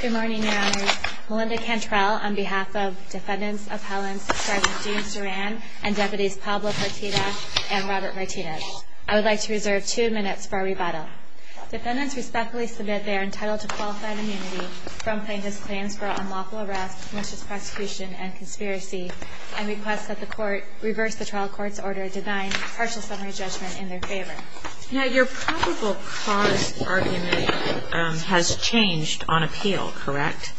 Good morning, Your Honors. Melinda Cantrell on behalf of Defendants Appellants Sgt. James Duran and Deputies Pablo Partida and Robert Martinez. I would like to reserve two minutes for our rebuttal. Defendants respectfully submit they are entitled to qualified immunity from plaintiff's claims for unlawful arrest, malicious prosecution, and conspiracy, and request that the Court reverse the trial court's order denying partial summary judgment in their favor. Your probable cause argument has changed on appeal, correct?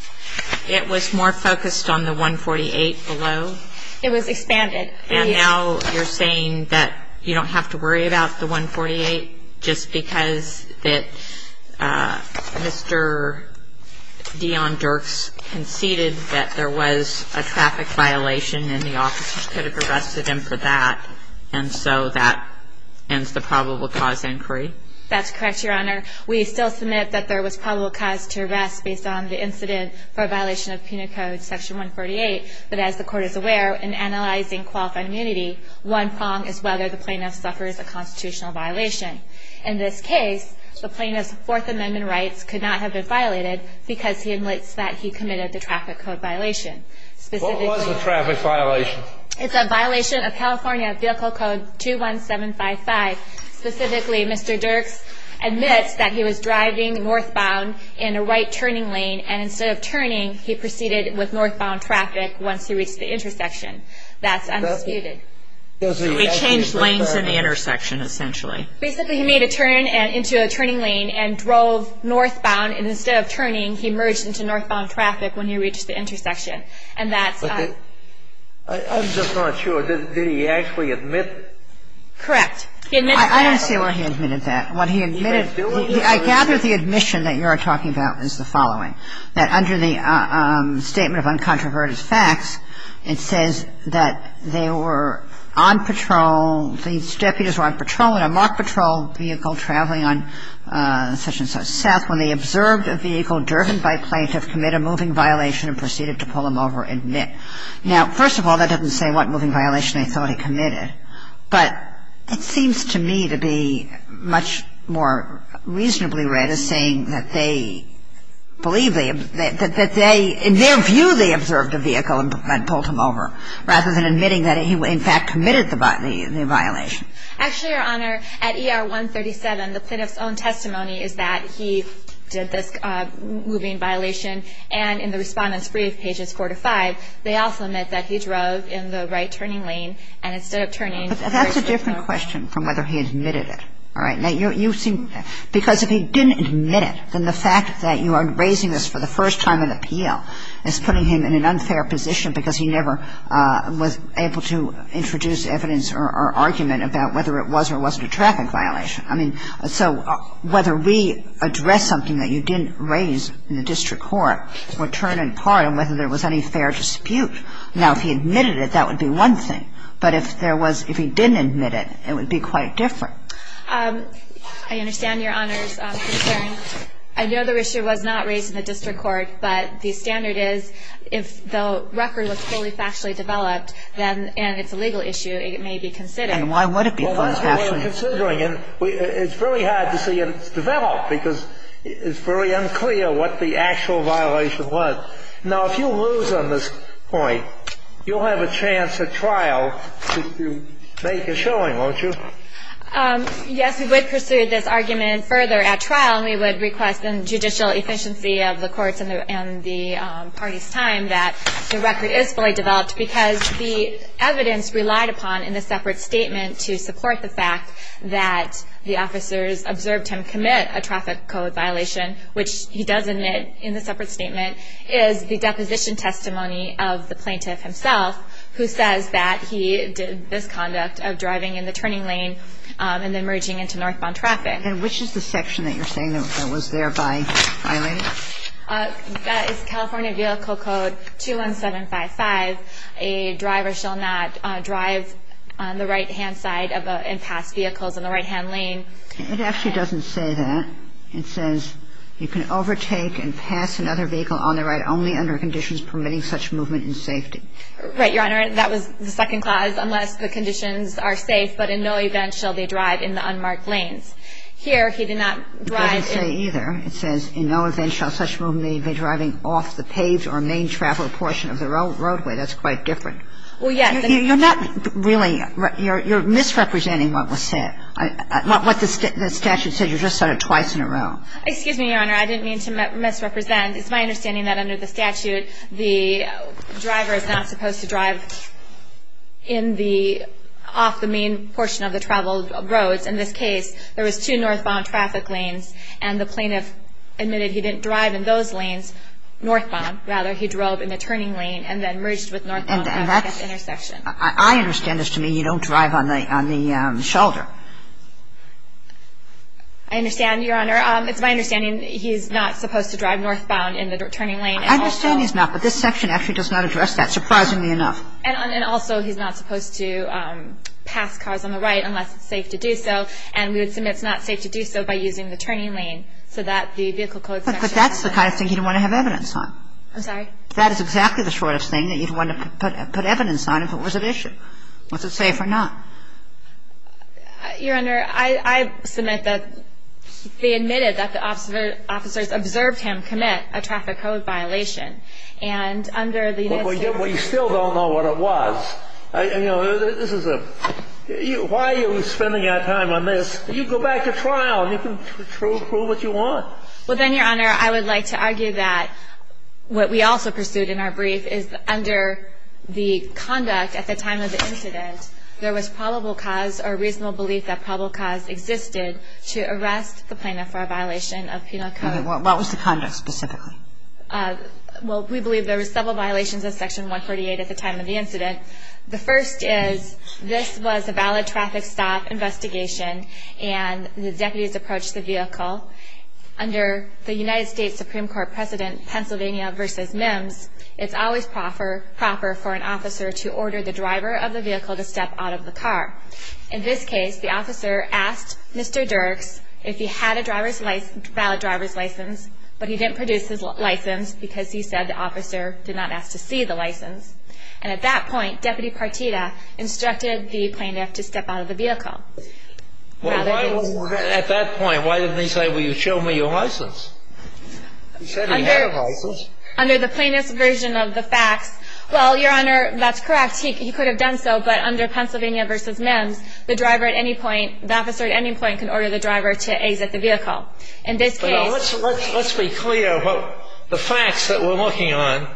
It was more focused on the 148 below. It was expanded. And now you're saying that you don't have to worry about the 148 just because Mr. Deon Dirks conceded that there was a traffic violation and the officers could have arrested him for that, and so that ends the probable cause inquiry? That's correct, Your Honor. We still submit that there was probable cause to arrest based on the incident for a violation of Penal Code Section 148. But as the Court is aware, in analyzing qualified immunity, one prong is whether the plaintiff suffers a constitutional violation. In this case, the plaintiff's Fourth Amendment rights could not have been violated because he admits that he committed the traffic code violation. What was the traffic violation? It's a violation of California Vehicle Code 21755. Specifically, Mr. Dirks admits that he was driving northbound in a right-turning lane, and instead of turning, he proceeded with northbound traffic once he reached the intersection. That's undisputed. He changed lanes in the intersection, essentially. Basically, he made a turn into a turning lane and drove northbound, and instead of turning, he merged into northbound traffic when he reached the intersection. And that's why. I'm just not sure. Did he actually admit? Correct. He admitted that. I don't see why he admitted that. What he admitted – I gather the admission that you are talking about is the following, that under the Statement of Uncontroverted Facts, it says that they were on patrol, these deputies were on patrol in a mock patrol vehicle traveling on such-and-such south and northbound traffic when they observed a vehicle driven by plaintiff commit a moving violation and proceeded to pull him over, admit. Now, first of all, that doesn't say what moving violation they thought he committed, but it seems to me to be much more reasonably read as saying that they believe they – that they – in their view, they observed a vehicle and pulled him over, rather than admitting that he, in fact, committed the violation. Actually, Your Honor, at ER 137, the plaintiff's own testimony is that he did this moving violation and in the Respondent's Brief, pages 4 to 5, they also admit that he drove in the right-turning lane and instead of turning – But that's a different question from whether he admitted it. All right. Now, you seem – because if he didn't admit it, then the fact that you are raising this for the first time in the appeal is putting him in an unfair position because he never was able to introduce evidence or argument about whether it was or wasn't a traffic violation. I mean, so whether we address something that you didn't raise in the district court would turn in part on whether there was any fair dispute. Now, if he admitted it, that would be one thing. But if there was – if he didn't admit it, it would be quite different. I understand Your Honor's concern. I know the issue was not raised in the district court, but the standard is if the record was fully factually developed, then – And why would it be fully factually developed? Well, that's what we're considering. It's very hard to see if it's developed because it's very unclear what the actual violation was. Now, if you lose on this point, you'll have a chance at trial to make a showing, won't you? Yes, we would pursue this argument further at trial, and we would request in judicial efficiency of the courts and the parties' time that the record is fully developed because the evidence relied upon in the separate statement to support the fact that the officers observed him commit a traffic code violation, which he does admit in the separate statement, is the deposition testimony of the plaintiff himself, who says that he did this conduct of driving in the turning lane and then merging into northbound traffic. And which is the section that you're saying that was thereby violated? That is California Vehicle Code 21755. A driver shall not drive on the right-hand side and pass vehicles on the right-hand lane. It actually doesn't say that. It says you can overtake and pass another vehicle on the right only under conditions permitting such movement in safety. Right, Your Honor. That was the second clause, unless the conditions are safe, but in no event shall they drive in the unmarked lanes. Here, he did not drive in – It doesn't say either. It says in no event shall such movement be driving off the paved or main travel portion of the roadway. That's quite different. Well, yes. You're not really – you're misrepresenting what was said, what the statute said. You just said it twice in a row. Excuse me, Your Honor. I didn't mean to misrepresent. It's my understanding that under the statute the driver is not supposed to drive in the – off the main portion of the traveled roads. In this case, there was two northbound traffic lanes and the plaintiff admitted he didn't drive in those lanes northbound. Rather, he drove in the turning lane and then merged with northbound at the intersection. And that's – I understand as to me you don't drive on the – on the shoulder. I understand, Your Honor. It's my understanding he's not supposed to drive northbound in the turning lane. I understand he's not, but this section actually does not address that, surprisingly enough. And also he's not supposed to pass cars on the right unless it's safe to do so. And we would submit it's not safe to do so by using the turning lane so that the vehicle code section – But that's the kind of thing you'd want to have evidence on. I'm sorry? That is exactly the sort of thing that you'd want to put evidence on if it was an issue, was it safe or not. Your Honor, I submit that they admitted that the officers observed him commit a traffic code violation. And under the – Well, you still don't know what it was. You know, this is a – why are you spending our time on this? You go back to trial and you can prove what you want. Well, then, Your Honor, I would like to argue that what we also pursued in our brief is under the conduct at the time of the incident, there was probable cause or reasonable belief that probable cause existed to arrest the plaintiff for a violation of penal code. Okay. What was the conduct specifically? Well, we believe there were several violations of Section 148 at the time of the incident. The first is this was a valid traffic stop investigation and the deputies approached the vehicle. Under the United States Supreme Court precedent, Pennsylvania v. Mims, it's always proper for an officer to order the driver of the vehicle to step out of the car. In this case, the officer asked Mr. Dirks if he had a driver's – valid driver's license, but he didn't produce his license because he said the officer did not ask to see the license. And at that point, Deputy Partita instructed the plaintiff to step out of the vehicle. Well, at that point, why didn't he say, well, you show me your license? He said he had a license. Under the plaintiff's version of the facts – well, Your Honor, that's correct. He could have done so, but under Pennsylvania v. Mims, the driver at any point – the officer at any point can order the driver to exit the vehicle. In this case – Let's be clear. The facts that we're looking at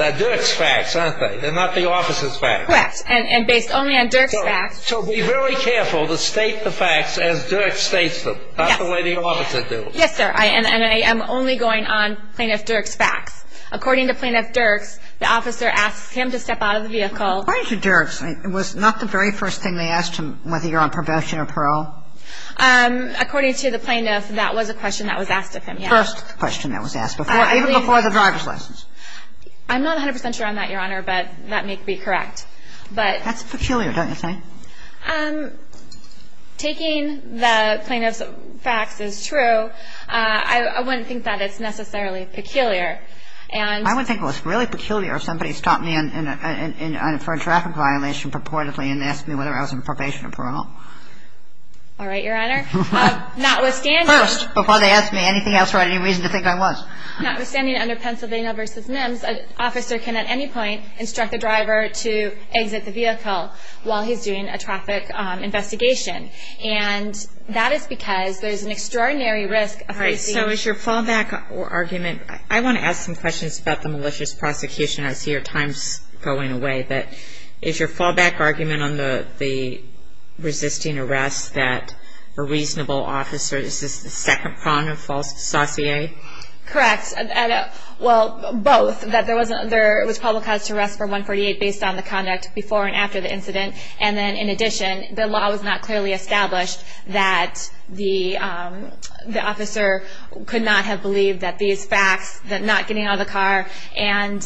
are Dirks' facts, aren't they? They're not the officer's facts. Correct. And based only on Dirks' facts – So be very careful to state the facts as Dirks states them, not the way the officer does. Yes, sir. And I am only going on Plaintiff Dirks' facts. According to Plaintiff Dirks, the officer asks him to step out of the vehicle. According to Dirks, it was not the very first thing they asked him, whether you're on probation or parole. According to the plaintiff, that was a question that was asked of him, yes. First question that was asked before – even before the driver's license. I'm not 100 percent sure on that, Your Honor, but that may be correct. But – That's peculiar, don't you think? Taking the plaintiff's facts as true, I wouldn't think that it's necessarily peculiar. And – I would think it was really peculiar if somebody stopped me for a traffic violation purportedly and asked me whether I was on probation or parole. All right, Your Honor. Notwithstanding – First, before they ask me anything else or any reason to think I was. Notwithstanding, under Pennsylvania v. Mims, an officer can at any point instruct the driver to exit the vehicle while he's doing a traffic investigation. And that is because there's an extraordinary risk of receiving – All right. So is your fallback argument – I want to ask some questions about the malicious prosecution. I see your time's going away. But is your fallback argument on the resisting arrest that a reasonable officer – is this the second prong of false dossier? Correct. Well, both. That there was probable cause to arrest for 148 based on the conduct before and after the incident. And then, in addition, the law was not clearly established that the officer could not have believed that these facts – that not getting out of the car and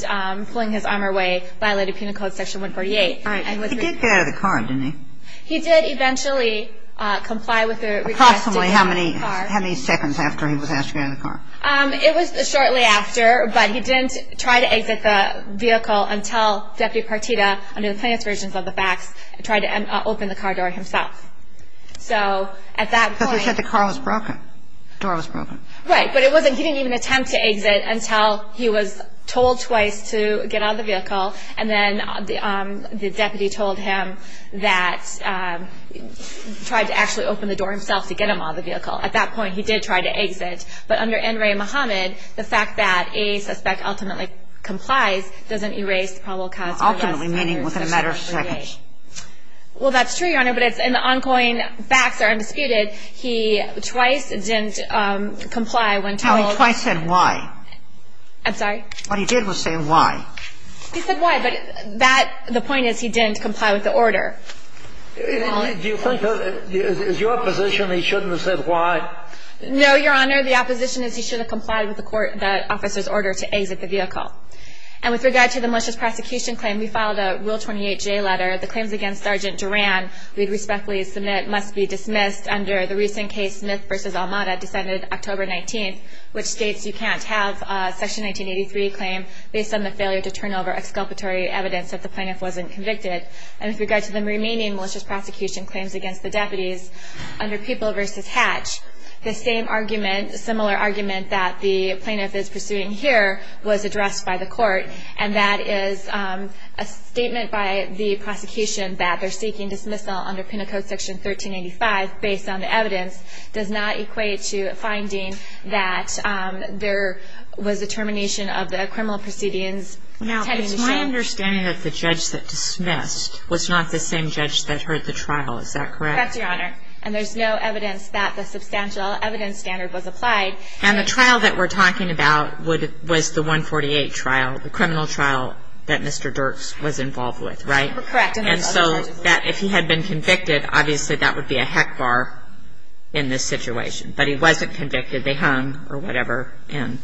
pulling his arm away violated Penal Code Section 148. All right. He did get out of the car, didn't he? He did eventually comply with the request to get out of the car. Approximately how many seconds after he was asked to get out of the car? It was shortly after, but he didn't try to exit the vehicle until Deputy Partita, under the plaintiff's versions of the facts, tried to open the car door himself. So at that point – Because we said the car was broken. The door was broken. Right. But it wasn't – he didn't even attempt to exit until he was told twice to get out of the vehicle, and then the deputy told him that – tried to actually open the door himself to get him out of the vehicle. At that point, he did try to exit. But under N. Ray Muhammad, the fact that a suspect ultimately complies doesn't erase the probable cause for arrest. Ultimately meaning within a matter of seconds. Well, that's true, Your Honor, but it's – and the ongoing facts are undisputed. He twice didn't comply when told – No, he twice said why. I'm sorry? What he did was say why. He said why, but that – the point is he didn't comply with the order. Do you think – is your position he shouldn't have said why? No, Your Honor. The opposition is he should have complied with the court – the officer's order to exit the vehicle. And with regard to the malicious prosecution claim, we filed a Rule 28J letter. The claims against Sergeant Duran we'd respectfully submit must be dismissed under the recent case Smith v. Almada, decided October 19th, which states you can't have a Section 1983 claim based on the failure to turn over exculpatory evidence that the plaintiff wasn't convicted. And with regard to the remaining malicious prosecution claims against the deputies under Pupil v. Hatch, the same argument – similar argument that the plaintiff is pursuing here was addressed by the court, and that is a statement by the prosecution that they're seeking dismissal under Penal Code Section 1385 based on the evidence does not equate to a finding that there was a termination of the criminal proceedings. Now, it's my understanding that the judge that dismissed was not the same judge that heard the trial. Is that correct? That's correct, Your Honor. And there's no evidence that the substantial evidence standard was applied. And the trial that we're talking about was the 148 trial, the criminal trial that Mr. Dirks was involved with, right? Correct. And so if he had been convicted, obviously that would be a heck bar in this situation. But he wasn't convicted. They hung, or whatever, him.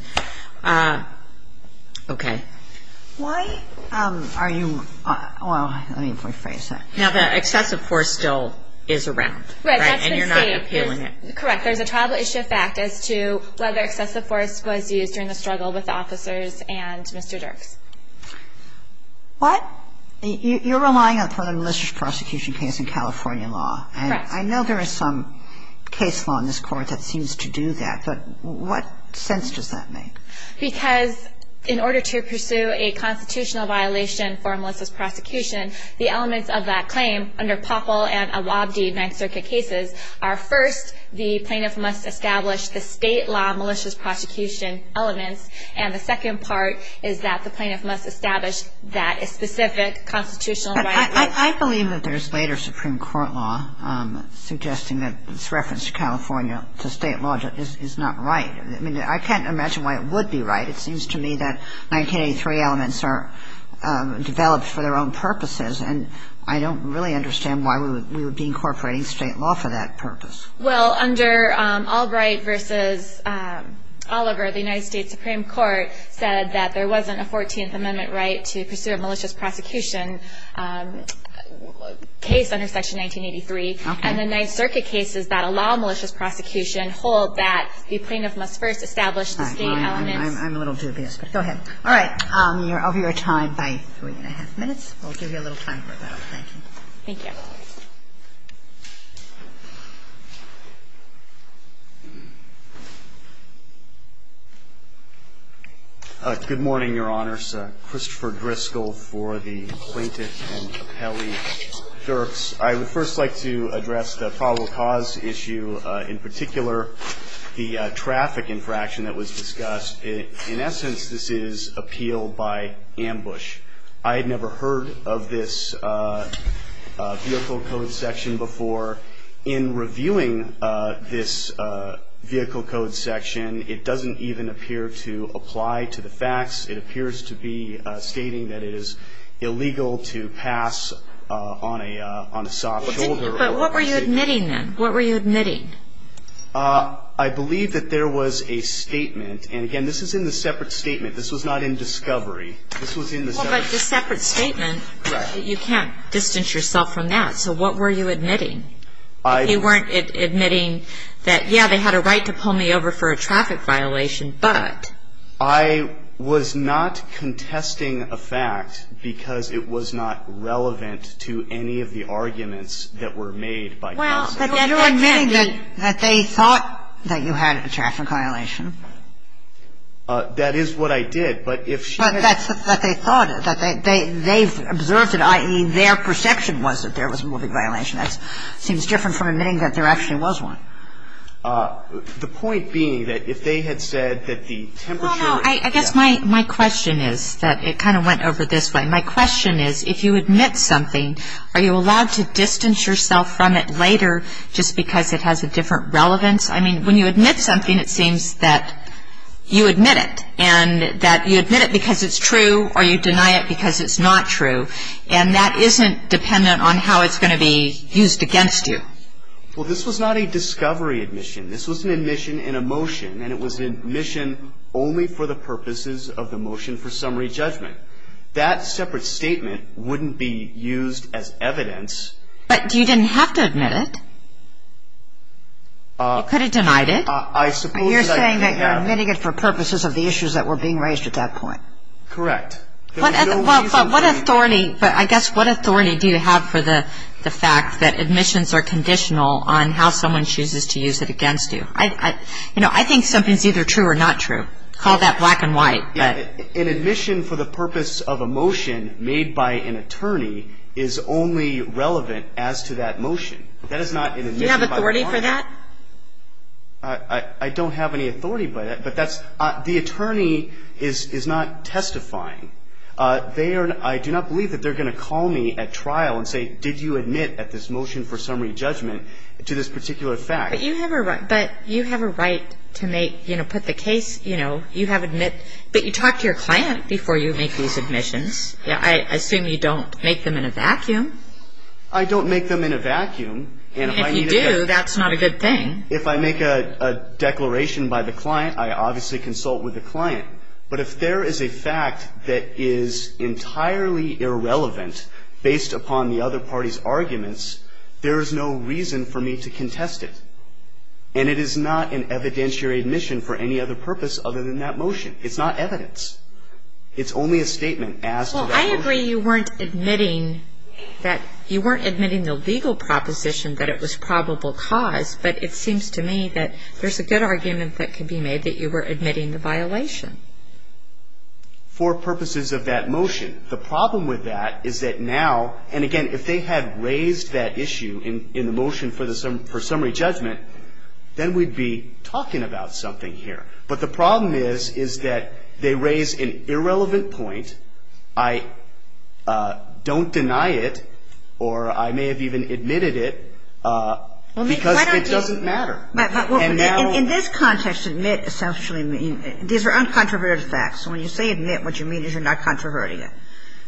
Okay. Why are you – well, let me rephrase that. Now, the excessive force still is around, right? And you're not appealing it. Correct. There's a tribal issue of fact as to whether excessive force was used during the struggle with the officers and Mr. Dirks. What? You're relying upon a malicious prosecution case in California law. Correct. And I know there is some case law in this Court that seems to do that. But what sense does that make? Because in order to pursue a constitutional violation for a malicious prosecution, the elements of that claim under Poppel and Awabdi Ninth Circuit cases are, first, the plaintiff must establish the state law malicious prosecution elements. And the second part is that the plaintiff must establish that specific constitutional right. I believe that there's later Supreme Court law suggesting that this reference to California, to state law, is not right. I mean, I can't imagine why it would be right. It seems to me that 1983 elements are developed for their own purposes. And I don't really understand why we would be incorporating state law for that purpose. Well, under Albright v. Oliver, the United States Supreme Court said that there wasn't a 14th Amendment right to pursue a malicious prosecution case under Section 1983. Okay. And the Ninth Circuit cases that allow malicious prosecution hold that the plaintiff must first establish the state elements. I'm a little dubious. But go ahead. All right. You're over your time by three and a half minutes. We'll give you a little time for that. Thank you. Thank you. Good morning, Your Honors. Christopher Driscoll for the plaintiff and appellee clerks. I would first like to address the probable cause issue. In particular, the traffic infraction that was discussed. In essence, this is appeal by ambush. I had never heard of this vehicle code section before. In reviewing this vehicle code section, it doesn't even appear to apply to the facts. It appears to be stating that it is illegal to pass on a soft shoulder. But what were you admitting then? What were you admitting? I believe that there was a statement. And, again, this is in the separate statement. This was not in discovery. This was in the separate statement. Well, but the separate statement, you can't distance yourself from that. So what were you admitting? You weren't admitting that, yeah, they had a right to pull me over for a traffic violation, but. I was not contesting a fact because it was not relevant to any of the arguments that were made by counsel. Well, but you're admitting that they thought that you had a traffic violation. That is what I did. But if she had. But that's what they thought, that they've observed it, i.e., their perception was that there was a traffic violation. That seems different from admitting that there actually was one. The point being that if they had said that the temperature. Well, no, I guess my question is that it kind of went over this way. My question is if you admit something, are you allowed to distance yourself from it later just because it has a different relevance? I mean, when you admit something, it seems that you admit it and that you admit it because it's true or you deny it because it's not true. And that isn't dependent on how it's going to be used against you. Well, this was not a discovery admission. This was an admission in a motion, and it was an admission only for the purposes of the motion for summary judgment. That separate statement wouldn't be used as evidence. But you didn't have to admit it. You could have denied it. You're saying that you're admitting it for purposes of the issues that were being raised at that point. Correct. But what authority do you have for the fact that admissions are conditional on how someone chooses to use it against you? You know, I think something's either true or not true. Call that black and white. An admission for the purpose of a motion made by an attorney is only relevant as to that motion. That is not an admission by an attorney. Do you have authority for that? I don't have any authority by that, but that's – the attorney is not testifying. They are – I do not believe that they're going to call me at trial and say, did you admit at this motion for summary judgment to this particular fact. But you have a right to make – you know, put the case – you know, you have admit – but you talk to your client before you make these admissions. I assume you don't make them in a vacuum. I don't make them in a vacuum. If you do, that's not a good thing. If I make a declaration by the client, I obviously consult with the client. But if there is a fact that is entirely irrelevant based upon the other party's arguments, there is no reason for me to contest it. And it is not an evidentiary admission for any other purpose other than that motion. It's not evidence. It's only a statement as to that motion. I agree you weren't admitting that – you weren't admitting the legal proposition that it was probable cause, but it seems to me that there's a good argument that could be made that you were admitting the violation. For purposes of that motion, the problem with that is that now – and again, if they had raised that issue in the motion for summary judgment, then we'd be talking about something here. But the problem is, is that they raise an irrelevant point. And I don't deny it, or I may have even admitted it, because it doesn't matter. And now – In this context, admit essentially means – these are uncontroverted facts. When you say admit, what you mean is you're not controverting it. Correct.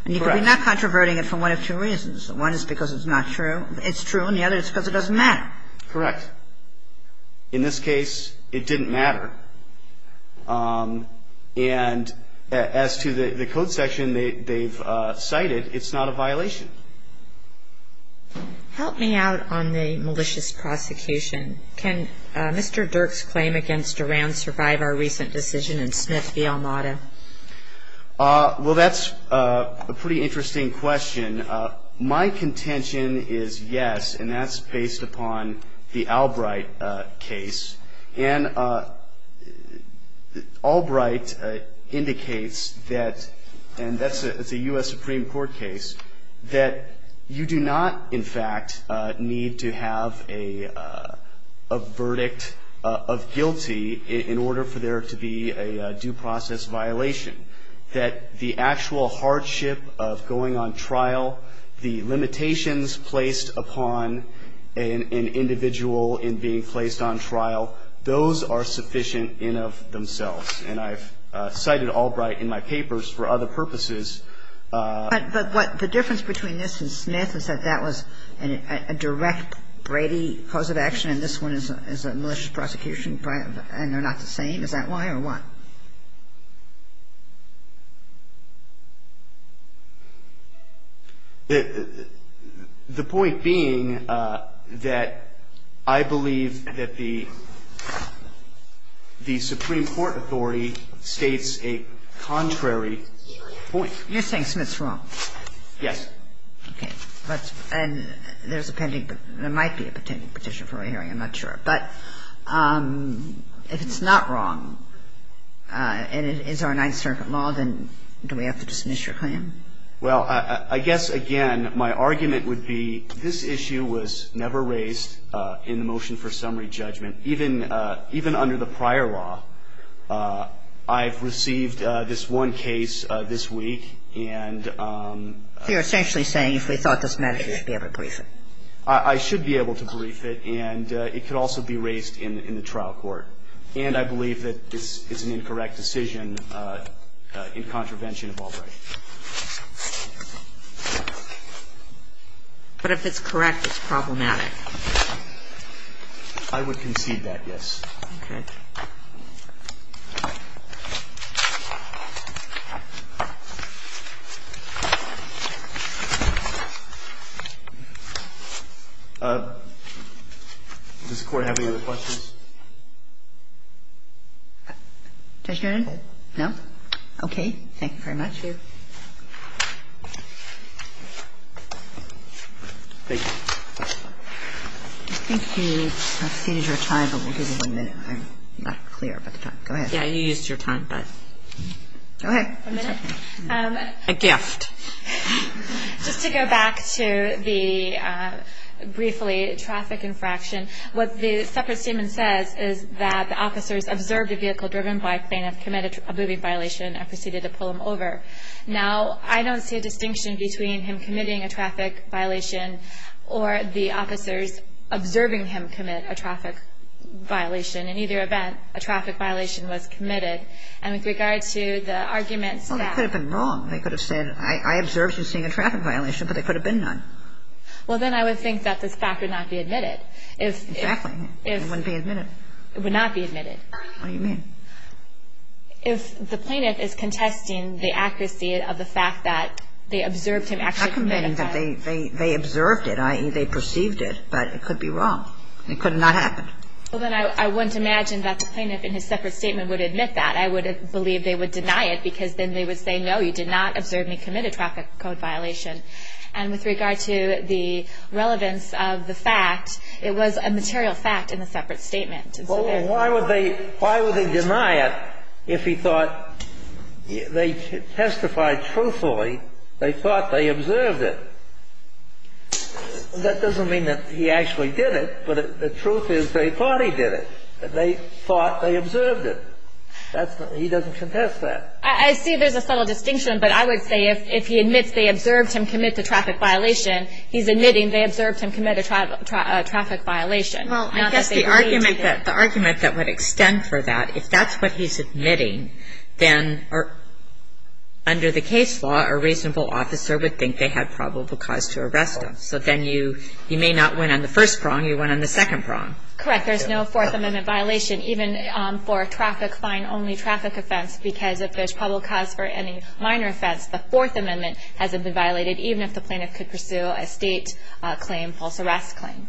And you could be not controverting it for one of two reasons. One is because it's not true. It's true. And the other is because it doesn't matter. Correct. In this case, it didn't matter. And as to the code section they've cited, it's not a violation. Help me out on the malicious prosecution. Can Mr. Dirk's claim against Duran survive our recent decision in Smith v. Almada? Well, that's a pretty interesting question. My contention is yes, and that's based upon the Albright case. And Albright indicates that, and that's a U.S. Supreme Court case, that you do not, in fact, need to have a verdict of guilty in order for there to be a due process violation. That the actual hardship of going on trial, the limitations placed upon an individual in being placed on trial, those are sufficient in and of themselves. And I've cited Albright in my papers for other purposes. But what the difference between this and Smith is that that was a direct Brady cause of action, and this one is a malicious prosecution, and they're not the same. Is that why or what? The point being that I believe that the Supreme Court authority states a contrary point. You're saying Smith's wrong? Yes. Okay. And there's a pending – there might be a pending petition for a hearing. But if it's not wrong, then it's not a violation. And is there a Ninth Circuit law? Then do we have to dismiss your claim? Well, I guess, again, my argument would be this issue was never raised in the motion for summary judgment, even under the prior law. I've received this one case this week, and – So you're essentially saying if we thought this mattered, you should be able to brief it. I should be able to brief it, and it could also be raised in the trial court. And I believe that it's an incorrect decision in contravention of all rights. But if it's correct, it's problematic. I would concede that, yes. Okay. Does the Court have any other questions? Judge Niren? No. No? Thank you very much. Thank you. Thank you. I think we have exceeded your time, but we'll give you one minute. I'm not clear about the time. Go ahead. Yeah, you used your time, but – Go ahead. One minute. A gift. Just to go back to the – briefly, traffic infraction. What the separate statement says is that the officers observed a vehicle driven by a plaintiff, committed a boobie violation, and proceeded to pull him over. Now, I don't see a distinction between him committing a traffic violation or the officers observing him commit a traffic violation. In either event, a traffic violation was committed. And with regard to the argument that – Well, they could have been wrong. They could have said, I observed you seeing a traffic violation, but there could have been none. Well, then I would think that this fact would not be admitted. Exactly. It wouldn't be admitted. It would not be admitted. What do you mean? If the plaintiff is contesting the accuracy of the fact that they observed him actually commit a traffic – I'm not saying that they observed it. I mean, they perceived it, but it could be wrong. It could not have happened. Well, then I wouldn't imagine that the plaintiff in his separate statement would admit that. I would believe they would deny it because then they would say, no, you did not observe me commit a traffic code violation. And with regard to the relevance of the fact, it was a material fact in the separate statement. Well, then why would they deny it if he thought they testified truthfully they thought they observed it? That doesn't mean that he actually did it, but the truth is they thought he did it. They thought they observed it. He doesn't contest that. I see there's a subtle distinction, but I would say if he admits they observed him commit the traffic violation, he's admitting they observed him commit a traffic violation. Well, I guess the argument that would extend for that, if that's what he's admitting, then under the case law a reasonable officer would think they had probable cause to arrest him. So then you may not win on the first prong, you win on the second prong. Correct. There's no Fourth Amendment violation, even for a traffic fine only traffic offense, because if there's probable cause for any minor offense, the Fourth Amendment hasn't been violated, even if the plaintiff could pursue a state claim, false arrest claim.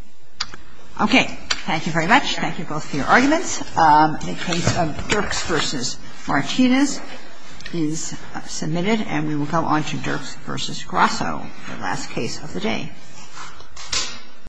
Okay. Thank you very much. Thank you both for your arguments. The case of Dirks v. Martinez is submitted, and we will go on to Dirks v. Grasso, the last case of the day.